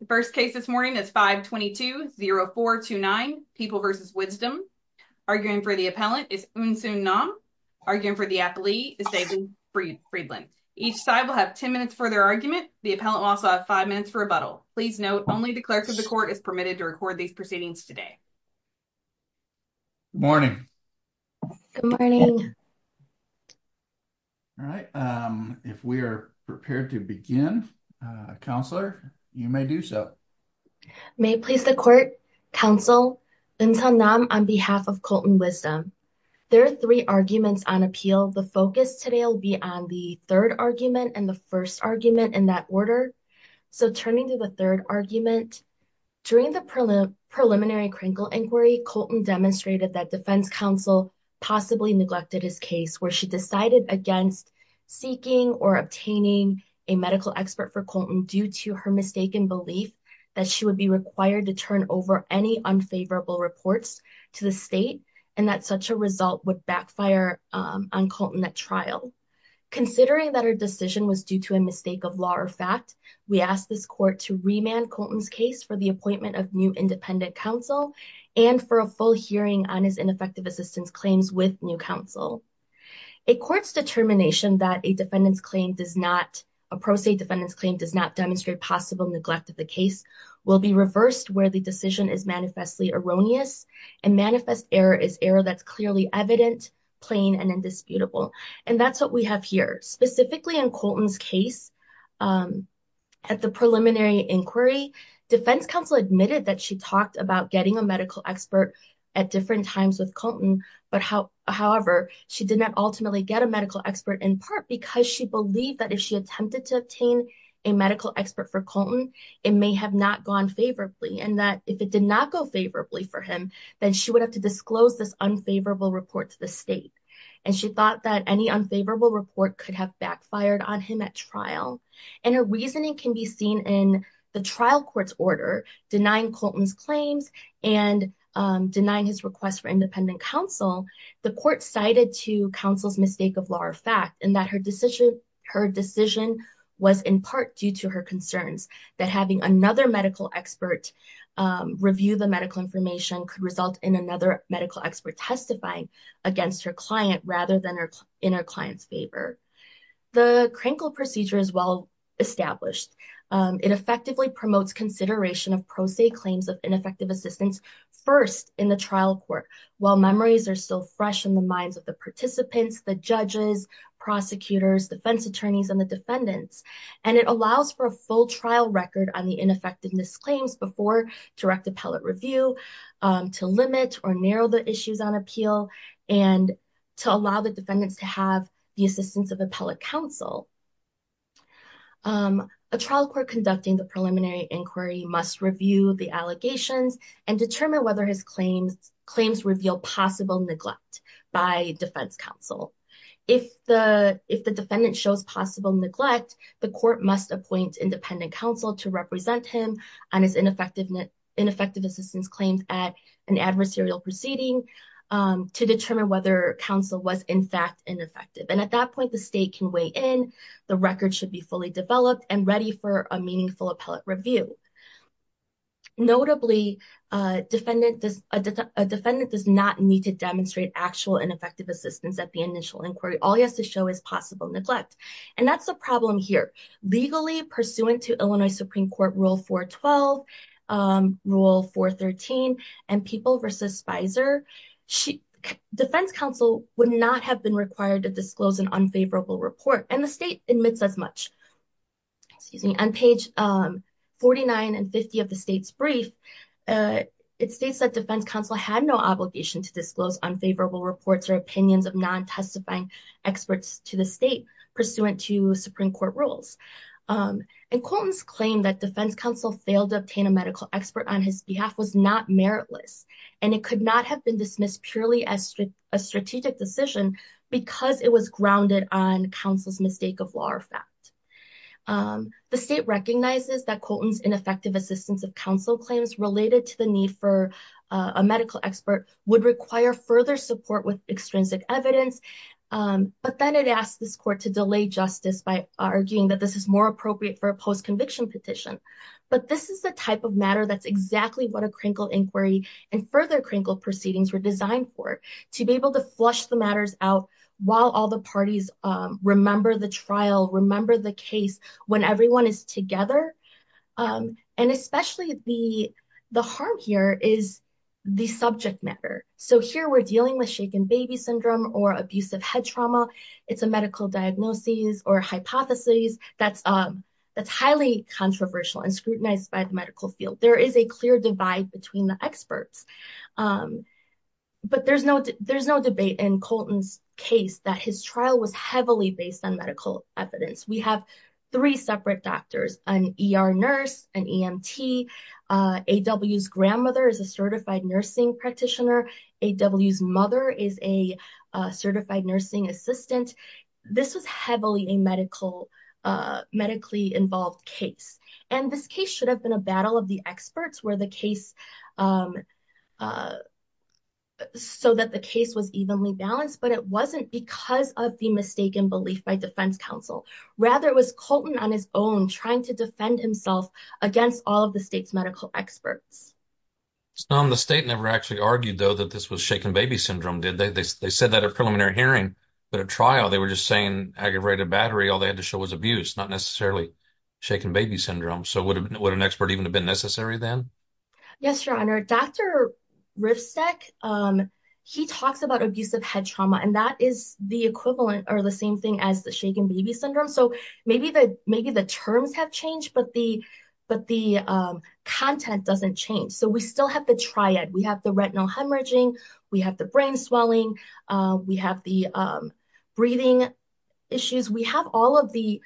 The first case this morning is 522-0429, People v. Wisdom. Arguing for the appellant is Eunsoon Nam. Arguing for the appellee is David Friedland. Each side will have 10 minutes for their argument. The appellant will also have five minutes for rebuttal. Please note only the clerk of the court is permitted to record these proceedings today. Good morning. Good morning. All right. If we are prepared to begin, counselor, you may do so. May it please the court. Counsel, Eunsoon Nam on behalf of Colton Wisdom. There are three arguments on appeal. The focus today will be on the third argument and the first argument in that order. So turning to the third argument, during the preliminary Krinkle inquiry, Colton demonstrated that defense counsel possibly neglected his case where she decided against seeking or obtaining a medical expert for Colton due to her mistaken belief that she would be required to turn over any unfavorable reports to the state and that such a result would backfire on Colton at trial. Considering that her decision was due to a mistake of law or fact, we ask this court to remand Colton's case for the appointment of new independent counsel and for a full hearing on his ineffective assistance claims with new counsel. A court's determination that a defendant's claim does not, a pro se defendant's claim does not demonstrate possible neglect of the case will be reversed where the decision is manifestly erroneous and manifest error is error that's clearly evident, plain, and indisputable. And that's what we have here. Specifically in Colton's case at the preliminary inquiry, defense counsel admitted that she talked about getting a medical expert at different times with Colton, but how, however, she did not ultimately get a medical expert in part because she believed that if she attempted to obtain a medical expert for Colton, it may have not gone favorably and that if it did not go favorably for him, then she would have to disclose this unfavorable report to the state. And she thought that any unfavorable report could have backfired on him at trial. And her reasoning can be seen in the trial court's order denying Colton's claims and denying his request for independent counsel. The court cited to counsel's mistake of law or fact and that her decision was in part due to her concerns that having another medical expert review the medical information could result in another medical expert testifying against her client rather than in her client's favor. The Krinkle procedure is well established. It effectively promotes consideration of pro se claims of ineffective assistance first in the trial court while memories are still fresh in the minds of the participants, the judges, prosecutors, defense attorneys, and the defendants. And it allows for a full trial record on the ineffectiveness claims before direct appellate review to limit or narrow the issues on appeal and to allow the defendants to have the assistance of appellate counsel. A trial court conducting the preliminary inquiry must review the allegations and determine whether his claims reveal possible neglect by defense counsel. If the defendant shows possible neglect, the court must appoint independent counsel to represent him on his ineffective assistance claims at an adversarial proceeding to determine whether counsel was in fact ineffective. And at that point, the state can weigh in. The record should be fully developed and ready for a meaningful appellate review. Notably, a defendant does not need to demonstrate actual ineffective assistance at the initial inquiry. All he has to show is neglect. And that's the problem here. Legally, pursuant to Illinois Supreme Court Rule 412, Rule 413, and People v. Spicer, defense counsel would not have been required to disclose an unfavorable report. And the state admits as much. On page 49 and 50 of the state's brief, it states that defense counsel had no obligation to disclose unfavorable reports or opinions of testifying experts to the state pursuant to Supreme Court rules. And Colton's claim that defense counsel failed to obtain a medical expert on his behalf was not meritless, and it could not have been dismissed purely as a strategic decision because it was grounded on counsel's mistake of law or fact. The state recognizes that Colton's ineffective assistance of counsel claims related to the need for a medical expert would require further support with extrinsic evidence. But then it asked this court to delay justice by arguing that this is more appropriate for a post-conviction petition. But this is the type of matter that's exactly what a crinkled inquiry and further crinkled proceedings were designed for, to be able to flush the matters out while all the parties remember the trial, remember the case when everyone is together. And especially the harm here is the subject matter. So here we're dealing with shaken baby syndrome or abusive head trauma. It's a medical diagnosis or hypothesis that's highly controversial and scrutinized by the medical field. There is a clear divide between the experts. But there's no debate in Colton's case that his trial was heavily based on medical evidence. We have three separate doctors, an ER nurse, an EMT. AW's grandmother is a certified nursing practitioner. AW's mother is a certified nursing assistant. This was heavily a medically involved case. And this case should have been a where the case so that the case was evenly balanced. But it wasn't because of the mistaken belief by defense counsel. Rather, it was Colton on his own trying to defend himself against all of the state's medical experts. The state never actually argued, though, that this was shaken baby syndrome. They said that at preliminary hearing. But at trial, they were just saying aggravated battery. All they had to show was abuse, not necessarily shaken baby syndrome. So would an expert even have been necessary then? Yes, your honor. Dr. Rivsteck, he talks about abusive head trauma, and that is the equivalent or the same thing as the shaken baby syndrome. So maybe the terms have changed, but the content doesn't change. So we still have the triad. We have the retinal hemorrhaging. We have the brain swelling. We have the breathing issues. We have all of the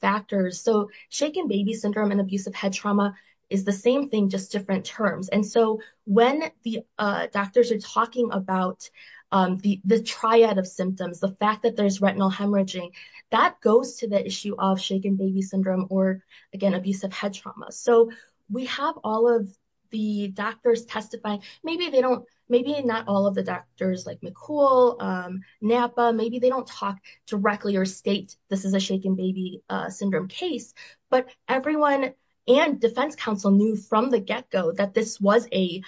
factors. So shaken baby syndrome and abusive head trauma is the same thing, just different terms. And so when the doctors are talking about the triad of symptoms, the fact that there's retinal hemorrhaging, that goes to the issue of shaken baby syndrome or, again, abusive head trauma. So we have all of the doctors testify. Maybe they don't, maybe not all of the doctors like McCool, Napa, maybe they don't talk directly or state this is a shaken baby syndrome case. But everyone and defense counsel knew from the get-go that this was a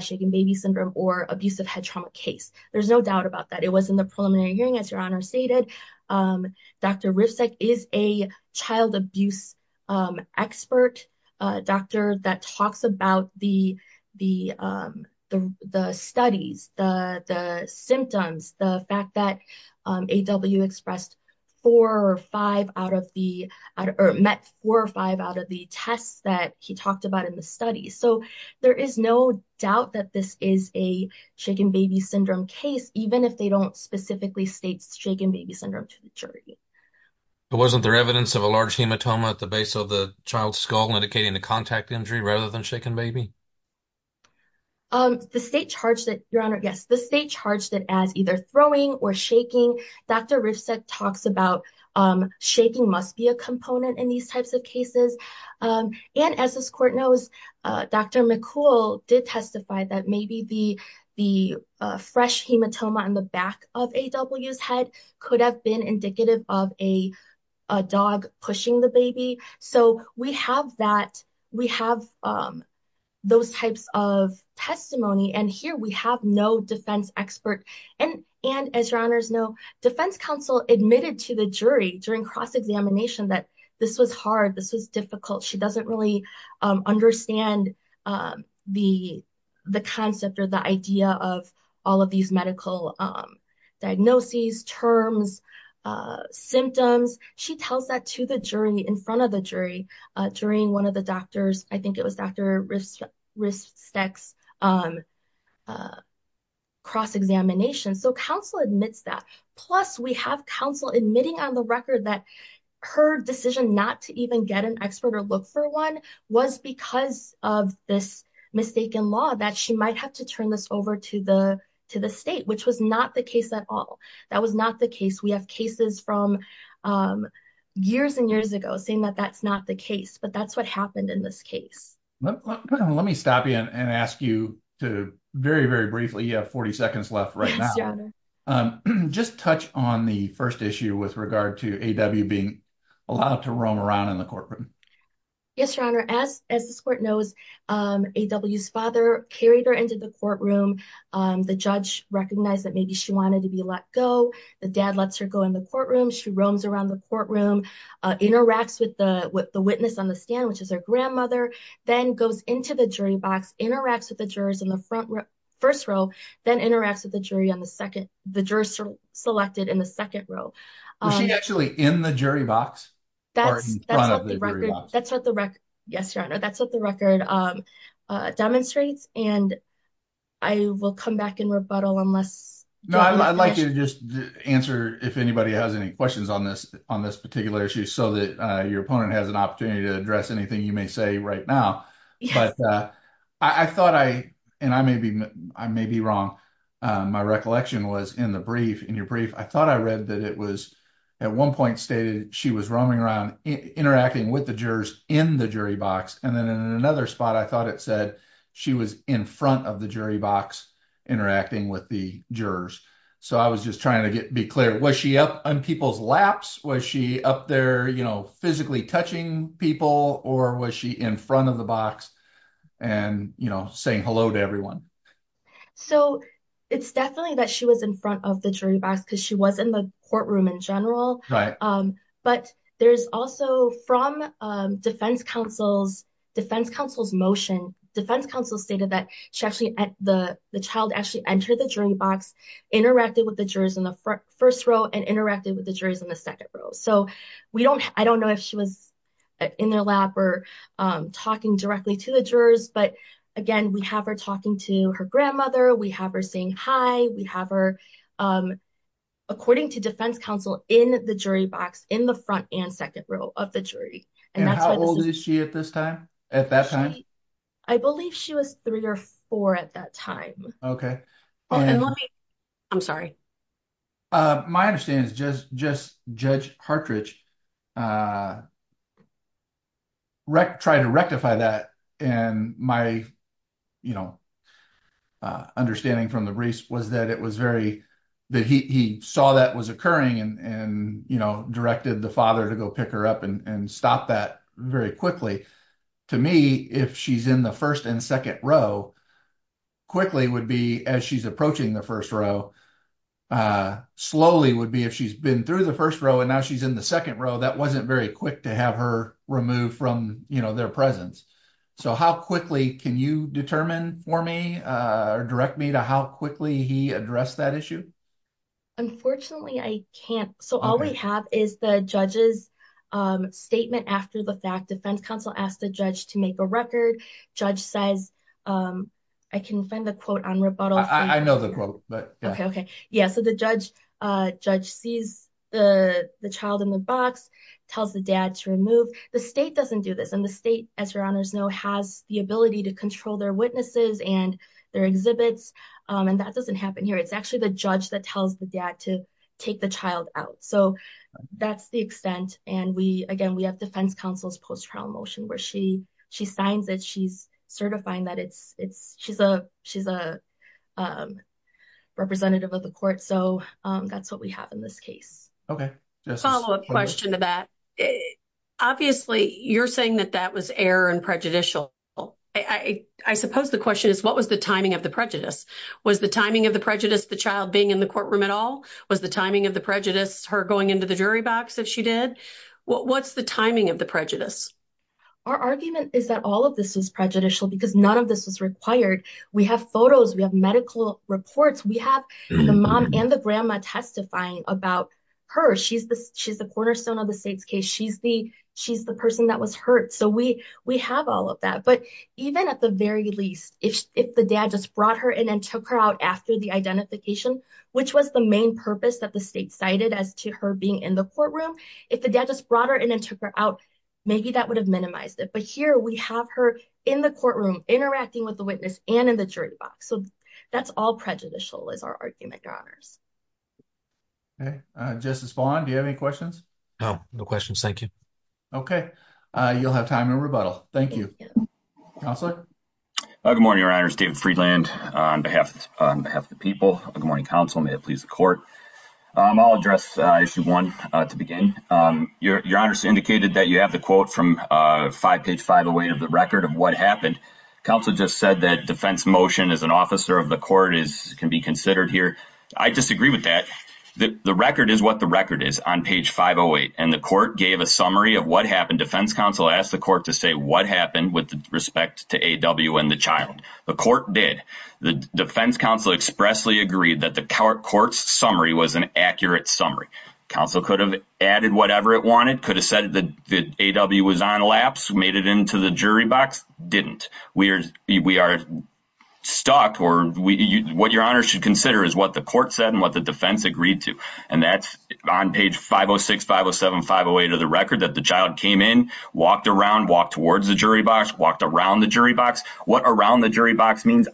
shaken baby syndrome or abusive head trauma case. There's no doubt about that. It was in the preliminary hearing, as your honor stated. Dr. Rivsteck is a child abuse expert doctor that talks about the studies, the symptoms, the fact that AW met four or five out of the tests that he talked about in the studies. So there is no doubt that this is a shaken baby syndrome case, even if they don't specifically state shaken baby syndrome to the jury. But wasn't there evidence of a large shaken baby? The state charged it, your honor, yes, the state charged it as either throwing or shaking. Dr. Rivsteck talks about shaking must be a component in these types of cases. And as this court knows, Dr. McCool did testify that maybe the fresh hematoma in the back of AW's could have been indicative of a dog pushing the baby. So we have those types of testimony. And here we have no defense expert. And as your honors know, defense counsel admitted to the jury during cross-examination that this was hard, this was difficult. She doesn't really understand the concept or the idea of all of these medical diagnoses, terms, symptoms. She tells that to the jury in front of the jury during one of the doctors, I think it was Dr. Rivsteck's cross-examination. So counsel admits that. Plus we have counsel admitting on the record that her decision not to even get an expert or look for one was because of this mistaken law that she might have to turn this over to the state, which was not the case at all. That was not the case. We have cases from years and years ago saying that that's not the case, but that's what happened in this case. Let me stop you and ask you to very, very briefly, you have 40 seconds left right now. Just touch on the first issue with regard to A.W. being allowed to roam around in the courtroom. Yes, your honor. As this court knows, A.W.'s father carried her into the courtroom. The judge recognized that maybe she wanted to be let go. The dad lets her go in the courtroom. She roams around the courtroom, interacts with the witness on the stand, which is her grandmother, then goes into the jury box, interacts with the jurors in the first row, then interacts with the jury on the second. The jurors are selected in the second row. Is she actually in the jury box? Yes, your honor. That's what the record demonstrates. I will come back and rebuttal. I'd like you to just answer if anybody has any questions on this particular issue so that your opponent has an opportunity to address anything you may say right now. I may be wrong. My recollection was in your brief. I thought I read that it was at one point stated she was roaming around interacting with the jurors in the jury box. Then in another spot, I thought it said she was in front of the jury box interacting with the jurors. I was just trying to be clear. Was she up on people's laps? Was she up there physically touching people? Or was she in front of the box saying hello to everyone? It's definitely that she was in front of the jury box because she was in the courtroom in general. There's also from defense counsel's motion, defense counsel stated that the child actually entered the jury box, interacted with the jurors in the first row, and interacted with the jurors in the second row. I don't know if she was in their lap or talking directly to the jurors. Again, we have her talking to her grandmother. We have her saying hi. We have her, according to defense counsel, in the jury box in the front and second row of the jury. How old is she at that time? I believe she was three or four at that time. Okay. I'm sorry. My understanding is just Judge Hartridge tried to rectify that. My understanding from the briefs was that he saw that was occurring and directed the father to go pick her up and stop that very quickly. To me, if she's in the as she's approaching the first row, slowly would be if she's been through the first row and now she's in the second row, that wasn't very quick to have her removed from their presence. How quickly can you determine for me or direct me to how quickly he addressed that issue? Unfortunately, I can't. All we have is the judge's statement after the fact. Defense counsel asked the judge to make a record. Judge says, I can find the quote on rebuttal. I know the quote, but yeah. Okay. The judge sees the child in the box, tells the dad to remove. The state doesn't do this. The state, as your honors know, has the ability to control their witnesses and their exhibits. That doesn't happen here. It's actually the judge that tells the dad to take the child out. That's the extent. Again, we have defense counsel's post-trial motion where she signs it. She's certifying that she's a representative of the court. That's what we have in this case. Okay. Follow-up question to that. Obviously, you're saying that that was error and prejudicial. I suppose the question is, what was the timing of the prejudice? Was the timing of the prejudice the child being in the courtroom at all? Was the timing of the prejudice her going into the jury box if she did? What's the timing of the prejudice? Our argument is that all of this is prejudicial because none of this was required. We have photos. We have medical reports. We have the mom and the grandma testifying about her. She's the cornerstone of the state's case. She's the person that was hurt. We have all of that. Even at the very least, if the dad just brought her in and took her out after the identification, which was the main purpose that the state cited as to her being in the courtroom, if the dad just brought her in and took her out, maybe that would have minimized it. Here, we have her in the courtroom interacting with the witness and in the jury box. That's all prejudicial is our argument, Your Honors. Okay. Justice Vaughn, do you have any questions? No. No questions. Thank you. Okay. You'll have time to rebuttal. Thank you. Counselor? Good morning, Your Honors. David Friedland on behalf of the people. Good morning, counsel. May it please the court. I'll address issue one to begin. Your Honors indicated that you have the quote from page 508 of the record of what happened. Counsel just said that defense motion as an officer of the court can be considered here. I disagree with that. The record is what the record is on page 508, and the court gave a summary of what happened. Defense counsel asked the court to say what happened with respect to A.W. and the child. The court did. The defense counsel expressly agreed that the court's summary was an accurate summary. Counsel could have added whatever it wanted, could have said that the A.W. was on lapse, made it into the jury box. Didn't. We are stuck. What Your Honors should consider is what the court said and what the defense agreed to. That's on page 506, 507, 508 of the record that the child came in, walked around, walked towards the jury box, walked around the jury box. What around the jury box means,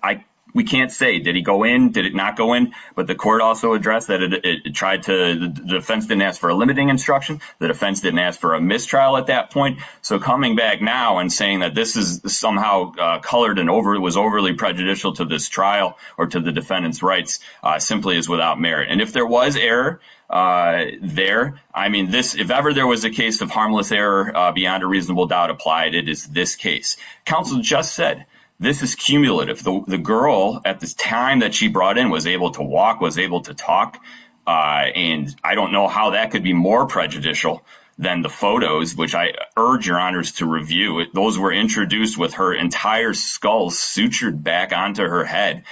we can't say, did he go in? Did it not go in? But the court also addressed that it tried to, the defense didn't ask for a limiting instruction. The defense didn't ask for a mistrial at that point. So coming back now and saying that this is somehow colored and was overly prejudicial to this trial or to the defendant's rights simply is without merit. And if there was error there, I mean this, if ever there was a case of harmless error beyond a reasonable doubt applied, it is this case. Counsel just said, this is cumulative. The girl at the time that she brought in was able to walk, was able to talk. And I don't know how that could be more prejudicial than the photos, which I urge Your Honors to review. Those were introduced with her entire skull sutured back onto her head,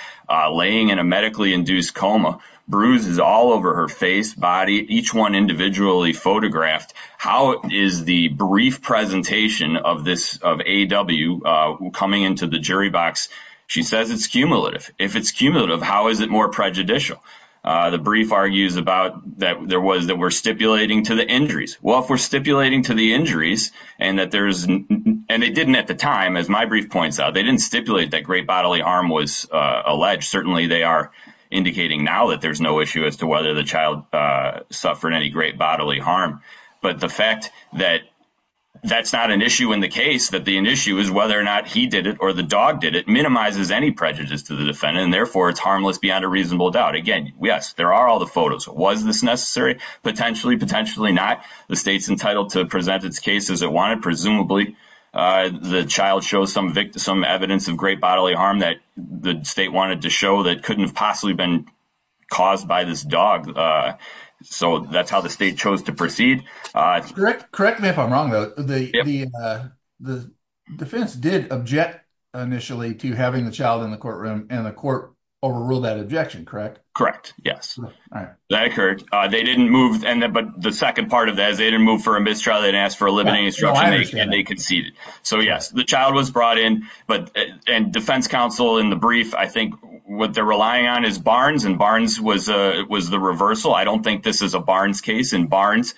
laying in a medically induced coma, bruises all over her face, body, each one individually photographed. How is the brief presentation of this, of AW coming into the jury box? She says it's cumulative. If it's cumulative, how is it more prejudicial? The brief argues about that there was, that we're stipulating to the injuries. Well, if we're stipulating to the injuries and that there's, and it didn't at the time, as my brief points out, they didn't stipulate that great bodily harm was alleged. Certainly they are indicating now that there's no issue as to whether the child suffered any great bodily harm. But the fact that that's not an issue in the case, that the issue is whether or not he did it or the dog did it, minimizes any prejudice to the defendant. And therefore it's harmless beyond a reasonable doubt. Again, yes, there are all the photos. Was this necessary? Potentially, potentially not. The state's entitled to present its case as it wanted. Presumably the child shows some evidence of great bodily harm that the state wanted to show that couldn't have possibly been caused by this dog. So that's how the state chose to proceed. Correct me if I'm wrong, though. The defense did object initially to having the child in the courtroom and the court overruled that objection, correct? Correct, yes. That occurred. They didn't move, but the second part of that is they didn't move for a mistrial. They didn't ask for a limiting instruction and they conceded. So yes, the child was brought in, and defense counsel in the brief, I think what they're relying on is Barnes and Barnes was the reversal. I don't think this is a Barnes case. In Barnes,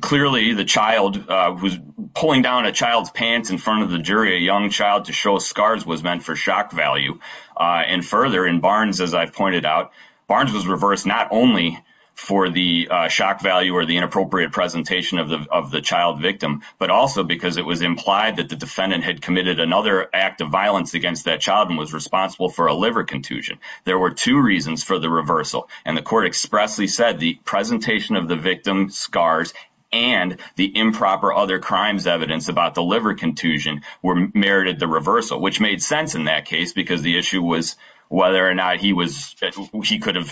clearly the child was pulling down a child's pants in front of the jury. A young child to show scars was meant for shock value. And further, in Barnes, as I've pointed out, Barnes was reversed not only for the shock value or the inappropriate presentation of the child victim, but also because it was implied that the defendant had committed another act of violence against that child and was responsible for a liver contusion. There were two reasons for the reversal, and the court expressly said the presentation of the victim's scars and the improper other crimes evidence about the liver contusion were merited the reversal, which made sense in that case because the issue was whether or not he intended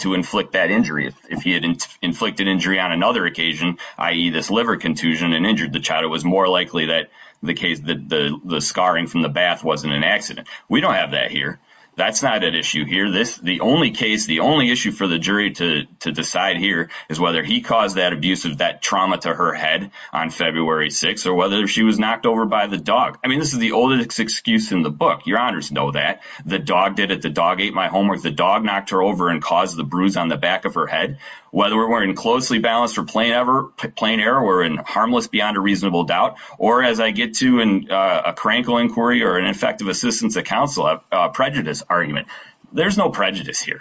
to inflict that injury. If he had inflicted injury on another occasion, i.e. this liver contusion and injured the child, it was more likely that the scarring from the bath wasn't an accident. We don't have that here. That's not an issue here. The only issue for the jury to decide here is whether he caused that abuse of that trauma to her head on February 6th or whether she was knocked over by the dog. I mean, this is the oldest excuse in the book. Your honors know that. The dog did it. The dog ate my homework. The dog knocked her over and caused the bruise on the back of her head. Whether we're in closely balanced or plain error, we're in harmless beyond a reasonable doubt, or as I get to in a crankle inquiry or an effective assistance of counsel, a prejudice argument, there's no prejudice here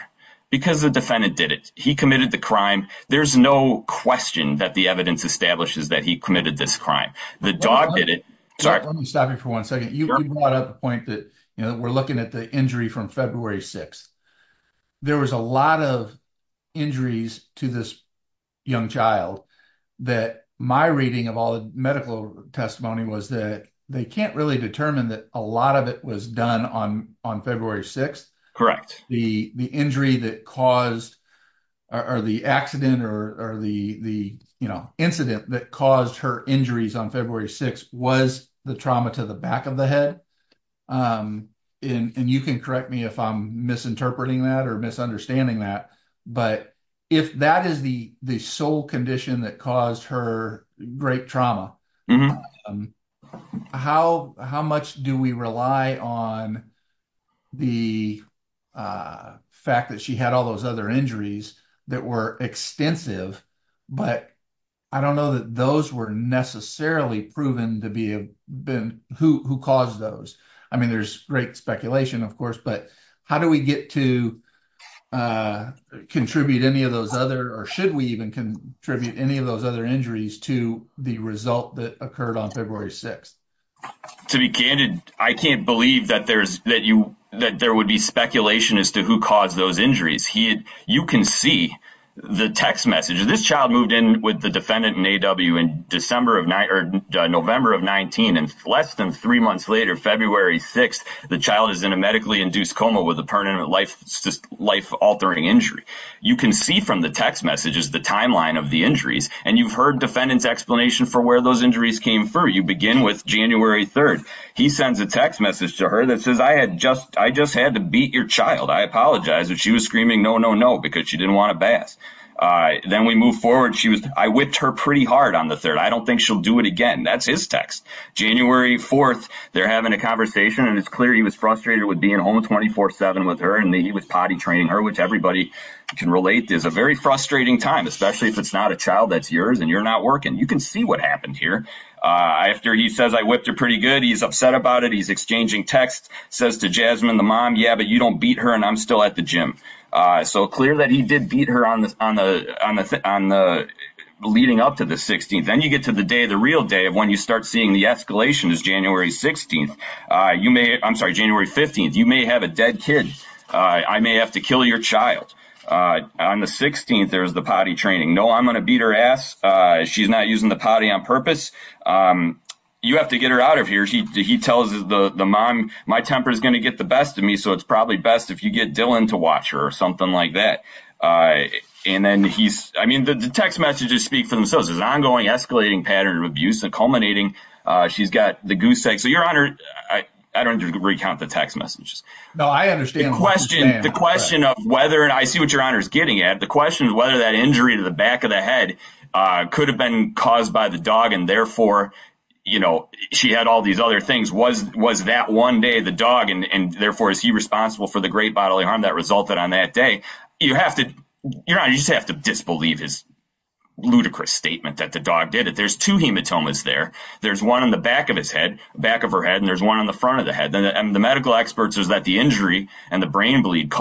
because the defendant did it. He committed the crime. There's no question that the evidence establishes that he committed this crime. The dog did it. Let me stop you for one second. You brought up the point that we're looking at the injury from February 6th. There was a lot of injuries to this young child that my reading of all the medical testimony was that they can't really determine that a lot of it was done on February 6th. The injury that caused or the accident or the incident that caused her injuries on February 6th was the trauma to the back of the head. You can correct me if I'm misinterpreting that or misunderstanding that, but if that is the sole condition that caused her great trauma, how much do we rely on the fact that she had all those other injuries that were extensive? But I don't know that those were necessarily proven to be who caused those. I mean, there's great speculation, of course, but how do we get to contribute any of those other or should we even contribute any of those other injuries to the result that occurred on February 6th? To be candid, I can't believe that there would be speculation as to who caused those injuries. You can see the text message. This child moved in with the defendant in A.W. in November of 19, and less than three months later, February 6th, the child is in a medically induced coma with a permanent life-altering injury. You can see from the text messages the timeline of the injuries, and you've heard defendant's explanation for where those injuries came from. You begin with January 3rd. He sends a text message to her that says, I just had to beat your child. I apologize. She was screaming, no, no, no, because she didn't want to bath. Then we move forward. She was, I whipped her pretty hard on the third. I don't think she'll do it again. That's his text. January 4th, they're having a conversation, and it's clear he was frustrated with being home 24 7 with her, and he was potty training her, which everybody can relate is a very frustrating time, especially if it's not a child that's yours and you're not working. You can see what happened here. After he says, I whipped her pretty good. He's upset about it. He's exchanging texts, says to Jasmine, the mom, yeah, but you don't beat her, and I'm still at the gym. So clear that he did beat her on the leading up to the 16th. Then you get to the day, the real day of when you start seeing the escalation is January 16th. You may, I'm sorry, January 15th. You may have a dead kid. I may have to kill your child. On the 16th, there's the potty training. No, I'm going to beat her ass. She's not using the potty on purpose. You have to get her out of the gym. He tells the mom, my temper is going to get the best of me. So it's probably best if you get Dylan to watch her or something like that. And then he's, I mean, the text messages speak for themselves. There's an ongoing escalating pattern of abuse and culminating. She's got the goose eggs. So your honor, I don't recount the text messages. No, I understand the question, the question of whether, and I see what your honor is getting at. The question is whether that injury to the back of the head could have been caused by the dog. And therefore, you know, she had all these other things. Was that one day the dog and therefore is he responsible for the great bodily harm that resulted on that day? You have to, your honor, you just have to disbelieve his ludicrous statement that the dog did it. There's two hematomas there. There's one in the back of his head, back of her head. And there's one on the front of the head. And the medical experts is that the injury and the brain bleed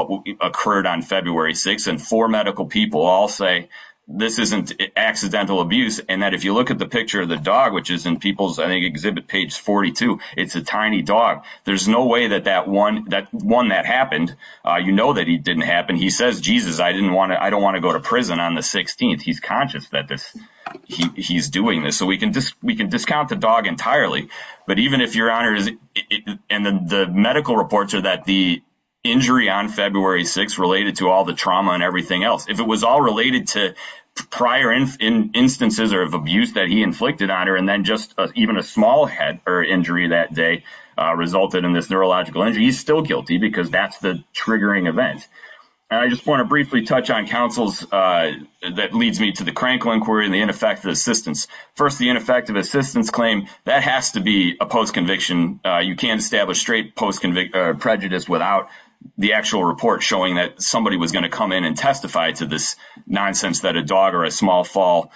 occurred on February 6th. And four medical people all say this isn't accidental abuse. And that if you look at the picture of the dog, which is in people's, I think exhibit page 42, it's a tiny dog. There's no way that that one, that one that happened, you know, that he didn't happen. He says, Jesus, I didn't want to, I don't want to go to prison on the 16th. He's conscious that this, he's doing this. So we can just, we can discount the dog entirely. But even if your honor is, and the medical reports are that the injury on February 6th related to all the trauma and everything else, if it was all related to prior instances or of abuse that he inflicted on her, and then just even a small head or injury that day resulted in this neurological injury, he's still guilty because that's the triggering event. And I just want to briefly touch on counsels that leads me to the Krankel inquiry and the ineffective assistance. First, the ineffective assistance claim that has to be a post-conviction. You can't establish straight post-conviction prejudice without the actual report showing that somebody was going to come in and testify to this nonsense that a dog or a small fall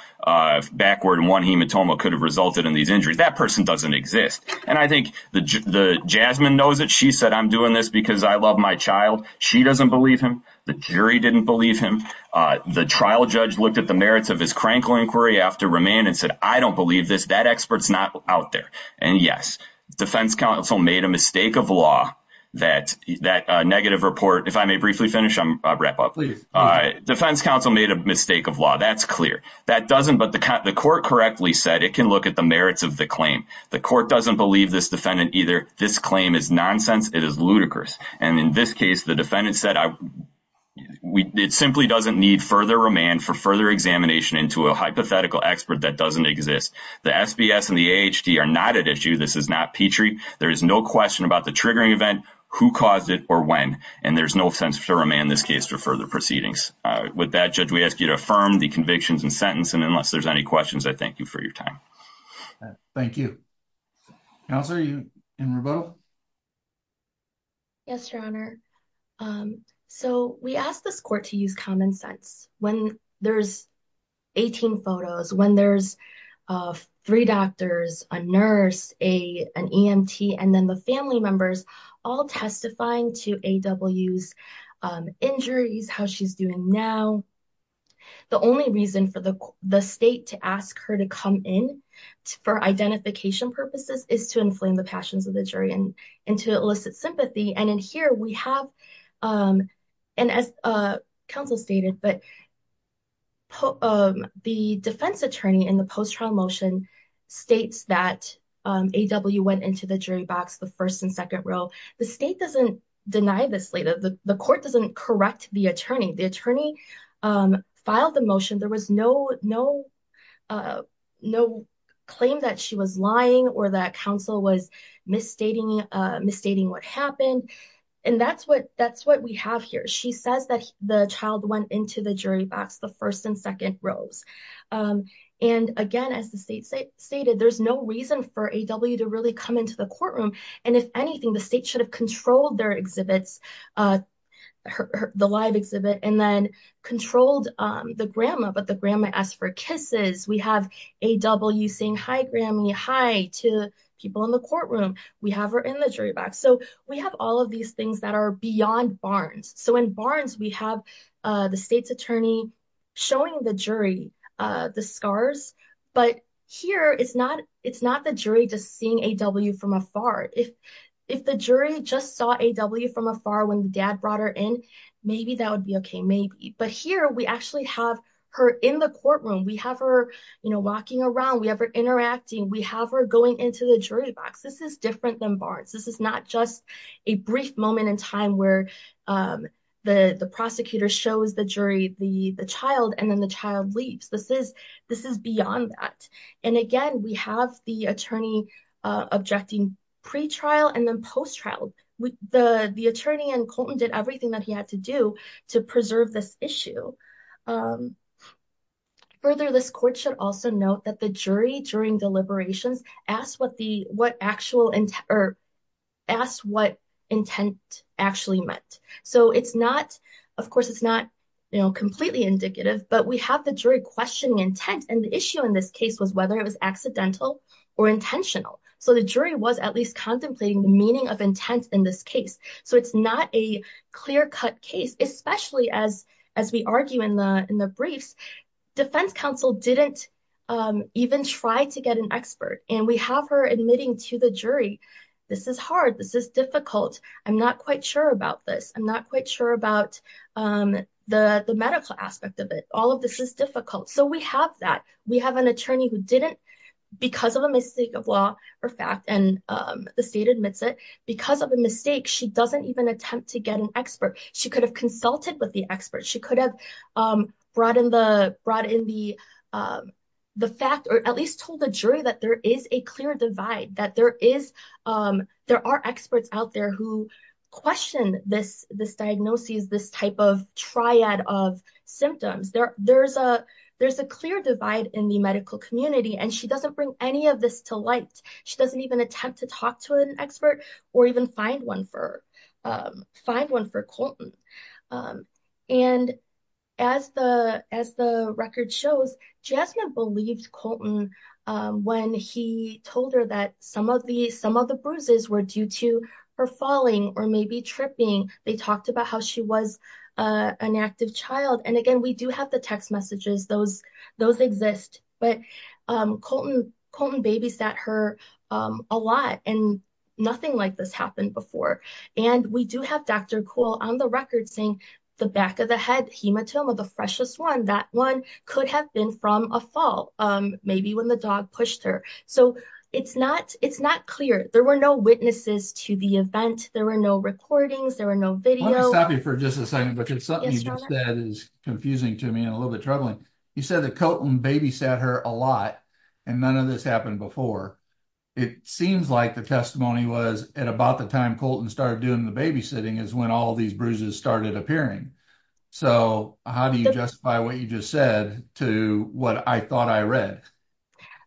backward in one hematoma could have resulted in these injuries. That person doesn't exist. And I think the, the Jasmine knows that she said, I'm doing this because I love my child. She doesn't believe him. The jury didn't believe him. The trial judge looked at the merits of his Krankel inquiry after Romaine and said, I don't believe this. That expert's not out there. And yes, defense counsel made a mistake of law that that negative report. If I may briefly finish, I'm wrap up. All right. Defense counsel made a mistake of law. That's clear. That doesn't, but the court correctly said it can look at the merits of the claim. The court doesn't believe this defendant either. This claim is nonsense. It is ludicrous. And in this case, the defendant said, it simply doesn't need further Romaine for further examination into a hypothetical expert that exists. The SBS and the HD are not at issue. This is not Petrie. There is no question about the triggering event who caused it or when, and there's no sense for Romaine in this case for further proceedings. With that judge, we ask you to affirm the convictions and sentence. And unless there's any questions, I thank you for your time. Thank you. Yes, your honor. Um, so we asked this court to use common sense when there's 18 photos, when there's, uh, three doctors, a nurse, a, an EMT, and then the family members all testifying to AWS, um, injuries, how she's doing now. The only reason for the, the state to ask her to come in for identification purposes is to inflame the passions of the jury and into illicit sympathy. And in here we have, um, and as, uh, counsel stated, but. The defense attorney in the post-trial motion states that, um, AW went into the jury box, the first and second row. The state doesn't deny this later. The court doesn't correct the attorney. The attorney, um, filed the motion. There was no, no, uh, no claim that she was lying or that counsel was misstating, uh, misstating what happened. And that's what, that's what we have here. She says that the child went into the jury box, the first and second rows. Um, and again, as the state state stated, there's no reason for AW to really come into the courtroom. And if anything, the state should have controlled their exhibits, uh, the live exhibit, and then the grandma, but the grandma asked for kisses. We have AW saying, hi Grammy, hi to people in the courtroom. We have her in the jury box. So we have all of these things that are beyond Barnes. So in Barnes, we have, uh, the state's attorney showing the jury, uh, the scars, but here it's not, it's not the jury just seeing AW from afar. If, if the jury just saw AW from afar, when the would be okay, maybe, but here we actually have her in the courtroom. We have her, you know, walking around, we have her interacting. We have her going into the jury box. This is different than Barnes. This is not just a brief moment in time where, um, the, the prosecutor shows the jury, the, the child, and then the child leaves. This is, this is beyond that. And again, we have the attorney, uh, objecting pretrial and then post-trial with the, the attorney and Colton did everything that he had to do to preserve this issue. Um, further, this court should also note that the jury during deliberations asked what the, what actual intent or asked what intent actually meant. So it's not, of course, it's not completely indicative, but we have the jury questioning intent. And the issue in this case was whether it was accidental or intentional. So the jury was at least contemplating the meaning of intent in this case. So it's not a clear-cut case, especially as, as we argue in the, in the briefs, defense counsel didn't, um, even try to get an expert. And we have her admitting to the jury, this is hard. This is difficult. I'm not quite sure about this. I'm not quite sure about, um, the, the medical aspect of it. All of this is difficult. So we have that. We have an attorney who didn't because of a mistake of law or fact, and, um, the state admits it because of a mistake, she doesn't even attempt to get an expert. She could have consulted with the expert. She could have, um, brought in the, brought in the, um, the fact, or at least told the jury that there is a clear divide, that there is, um, there are experts out there who question this, this diagnosis, this type of triad of symptoms. There, there's a, there's a clear divide in the medical community, and she doesn't bring any of this to light. She doesn't even attempt to talk to an expert or even find one for, um, find one for Colton. Um, and as the, as the record shows, Jasmine believed Colton, um, when he told her that some of the, some of the bruises were due to her falling or maybe tripping. They talked about how she was, uh, an active child. And again, we do have the text messages, those, those exist, but, um, Colton, Colton babysat her, um, a lot, and nothing like this happened before. And we do have Dr. Kuhl on the record saying the back of the head hematoma, the freshest one, that one could have been from a fall, um, maybe when the dog pushed her. So it's not, it's not clear. There were no witnesses to the event. There were no recordings. There were no video. I want to stop you for just a second because something you just said is confusing to me and a little bit troubling. You said that Colton babysat her a lot and none of this happened before. It seems like the testimony was at about the time Colton started doing the babysitting is when all these bruises started appearing. So how do you justify what you just said to what I thought I read?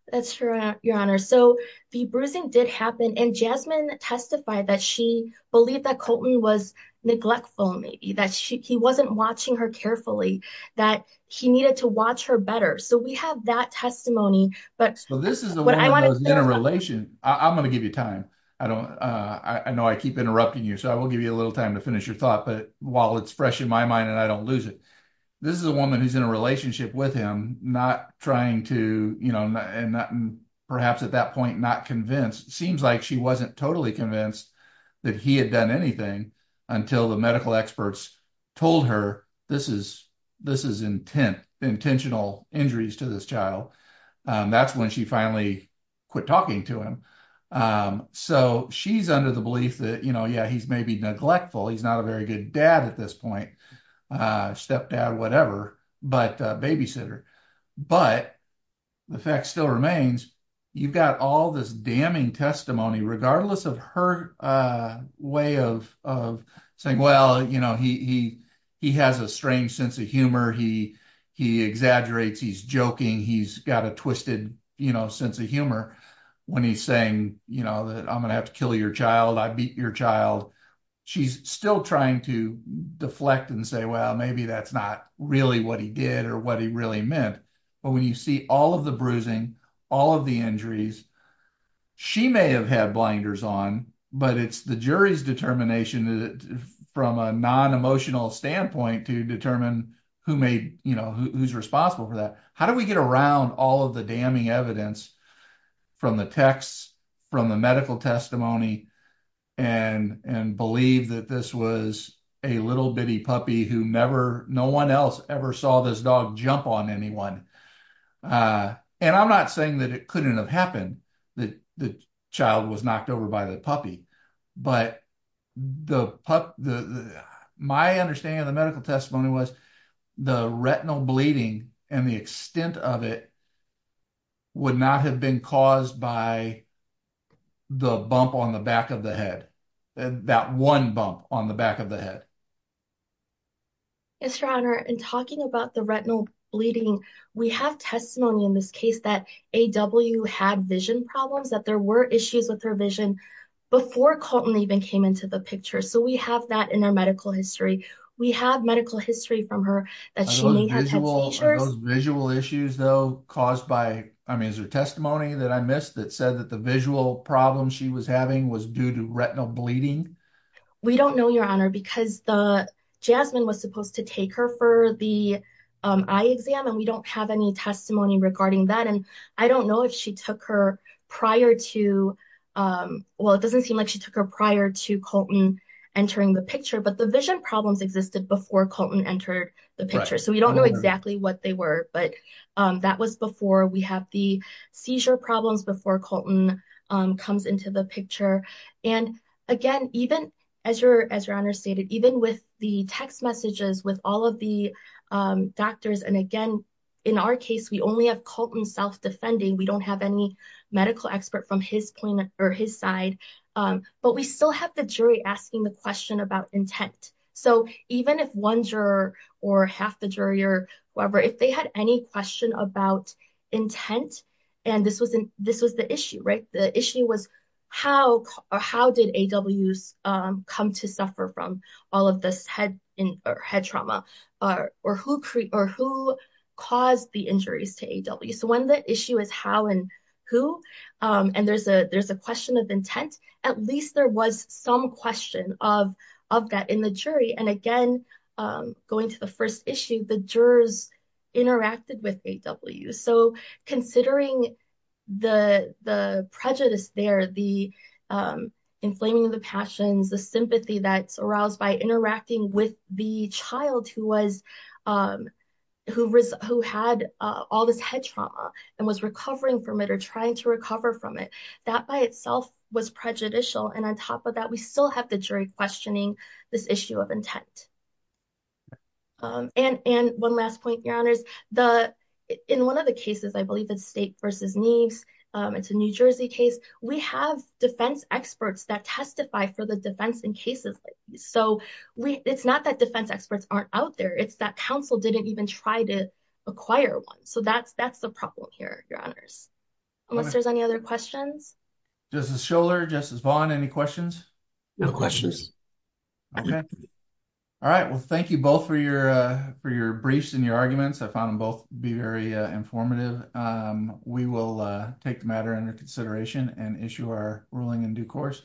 That's true, your honor. So the bruising did happen and Jasmine testified that she believed that Colton was neglectful, maybe that she, he wasn't watching her carefully, that he needed to watch her better. So we have that testimony, but this is the one in a relation. I'm going to give you time. I don't, uh, I know I keep interrupting you. So I will give you a little time to finish your thought, but while it's fresh in my mind and I don't lose it, this is a woman who's in a relationship with him, not trying to, you know, and not perhaps at that point, not convinced. It seems like she wasn't totally convinced that he had done anything until the medical experts told her, this is, this is intent, intentional injuries to this child. Um, that's when she finally quit talking to him. Um, so she's under the belief that, you know, yeah, he's maybe neglectful. He's not a very good dad at this point, a stepdad, whatever, but a babysitter, but the fact still remains. You've got all this damning testimony, regardless of her, uh, way of, of saying, well, you know, he, he, he has a strange sense of humor. He, he exaggerates, he's joking. He's got a twisted, you know, sense of humor when he's saying, you know, that I'm going to have to kill your child. I beat your child. She's still trying to deflect and say, well, maybe that's not really what he did or what he really meant. But when you see all of the bruising, all of the injuries, she may have had blinders on, but it's the jury's determination from a non-emotional standpoint to determine who made, you know, who's responsible for that. How do we get around all of the damning evidence from the texts, from the medical testimony and, and believe that this was a little bitty puppy who never, no one else ever saw this dog jump on anyone. Uh, and I'm not saying that it couldn't have happened that the child was knocked over by the puppy, but the pup, the, my understanding of the medical testimony was the retinal bleeding and the extent of it would not have been caused by the bump on the back of the head, that one bump on the back of the head. Yes, your honor. And talking about the retinal bleeding, we have testimony in this case that AW had vision problems, that there were issues with her vision before Colton even came into the picture. So we have that in our medical history. We have medical history from her that she may have had seizures. Are those visual issues though caused by, I mean, is there testimony that I missed that said that the visual problem she was having was due to retinal bleeding? We don't know, your honor, because the, Jasmine was supposed to take her for the eye exam and we don't have any testimony regarding that. And I don't know if she took her prior to, well, it doesn't seem like she took her prior to Colton entering the picture, but the vision problems existed before Colton entered the picture. So we don't know exactly what they were, but that was before we have the seizure problems before Colton comes into the picture. And again, even as your, as your honor stated, even with the text messages with all of the doctors, and again, in our case, we only have Colton self-defending. We don't have any medical expert from his point or his side. But we still have the jury asking the question about intent. So even if one juror or half the jury or whoever, if they had any question about intent, and this was, this was the issue, right? The issue was how, or how did AWS come to suffer from all of this head trauma or who, or who caused the injuries to AWS? So when the issue is how and who, and there's a, there's a question of intent, at least there was some question of, of that in the jury. And again, going to the first issue, the jurors interacted with AWS. So considering the, the prejudice there, the inflaming of the passions, the sympathy that's aroused by interacting with the child who was, who, who had all this head trauma and was recovering from it or trying to recover from it, that by itself was prejudicial. And on top of that, we still have the jury questioning this issue of intent. And, and one last point, your honors, the, in one of the cases, I believe it's state versus needs. It's a New Jersey case. We have defense experts that testify for the defense in cases. So we, it's not that defense experts aren't out there. It's that council didn't even try to acquire one. So that's, that's the problem here, your honors. Unless there's any other questions. Justice Schouler, Justice Vaughn, any questions? No questions. Okay. All right. Well, thank you both for your, for your briefs and your arguments. I found them both to be very informative. We will take the in due course.